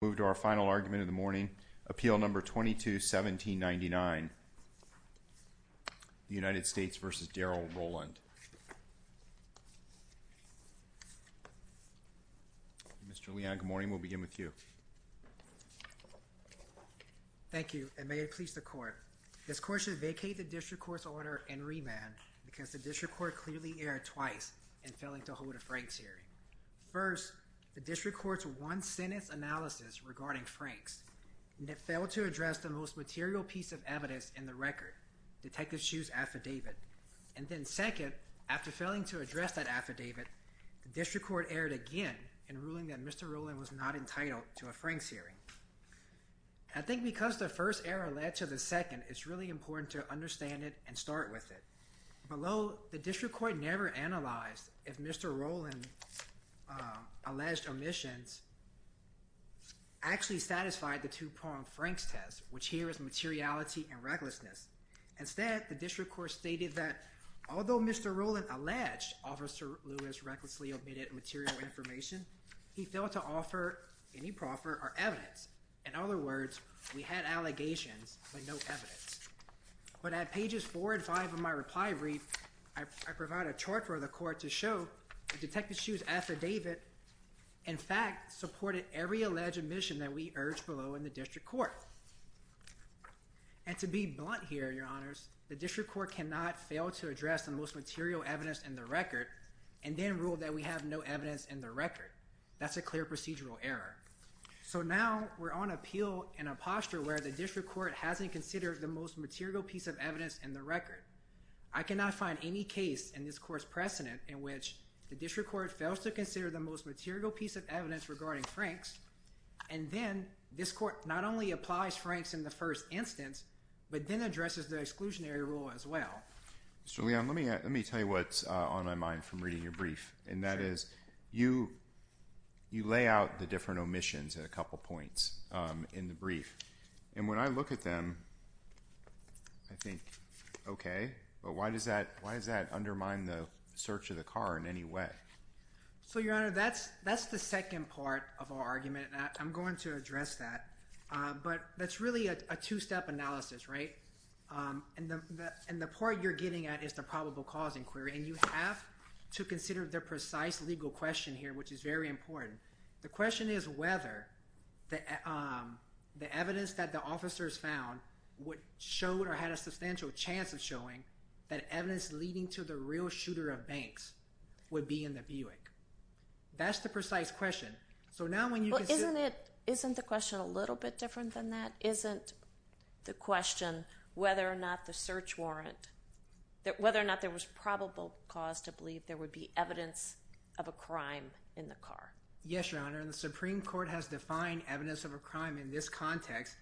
Thank you and may it please the court. This court should vacate the district court's order and remand because the district court clearly erred twice in failing to hold a Frank hearing. First, the district court's one-sentence analysis regarding Franks and it failed to address the most material piece of evidence in the record, Detective Hsu's affidavit. And then second, after failing to address that affidavit, the district court erred again in ruling that Mr. Roland was not entitled to a Franks hearing. I think because the first error led to the second, it's really important to understand it and start with it. Below, the district court never analyzed if Mr. Roland's alleged omissions actually satisfied the two-pronged Franks test, which here is materiality and recklessness. Instead, the district court stated that although Mr. Roland alleged Officer Lewis recklessly omitted material information, he failed to offer any proffer or evidence. In other words, we had allegations but no evidence. But at pages four and five of my reply brief, I provide a chart for the court to show that Detective Hsu's affidavit, in fact, supported every alleged omission that we urged below in the district court. And to be blunt here, your honors, the district court cannot fail to address the most material evidence in the record and then rule that we have no evidence in the record. That's a clear procedural error. So now we're on appeal in a posture where the district court hasn't considered the most material piece of evidence in the record. I cannot find any case in this court's precedent in which the district court fails to consider the most material piece of evidence regarding Franks, and then this court not only applies Franks in the first instance, but then addresses the exclusionary rule as well. Mr. Leon, let me tell you what's on my mind from reading your brief, and that is you lay out the different omissions at a couple points in the brief. And when I look at them, I think, okay, but why does that undermine the search of the car in any way? So your honor, that's the second part of our argument, and I'm going to address that. But that's really a two-step analysis, right? And the part you're getting at is the probable cause inquiry, and you have to consider the precise legal question here, which is very important. The question is whether the evidence that the officers found would show or had a substantial chance of showing that evidence leading to the real shooter of Banks would be in the Buick. That's the precise question. So now when you can see... Well, isn't it... Isn't the question a little bit different than that? Isn't the question whether or not the search warrant... Whether or not there was probable cause to believe there would be evidence of a crime in the car. Yes, your honor. And the Supreme Court has defined evidence of a crime in this context.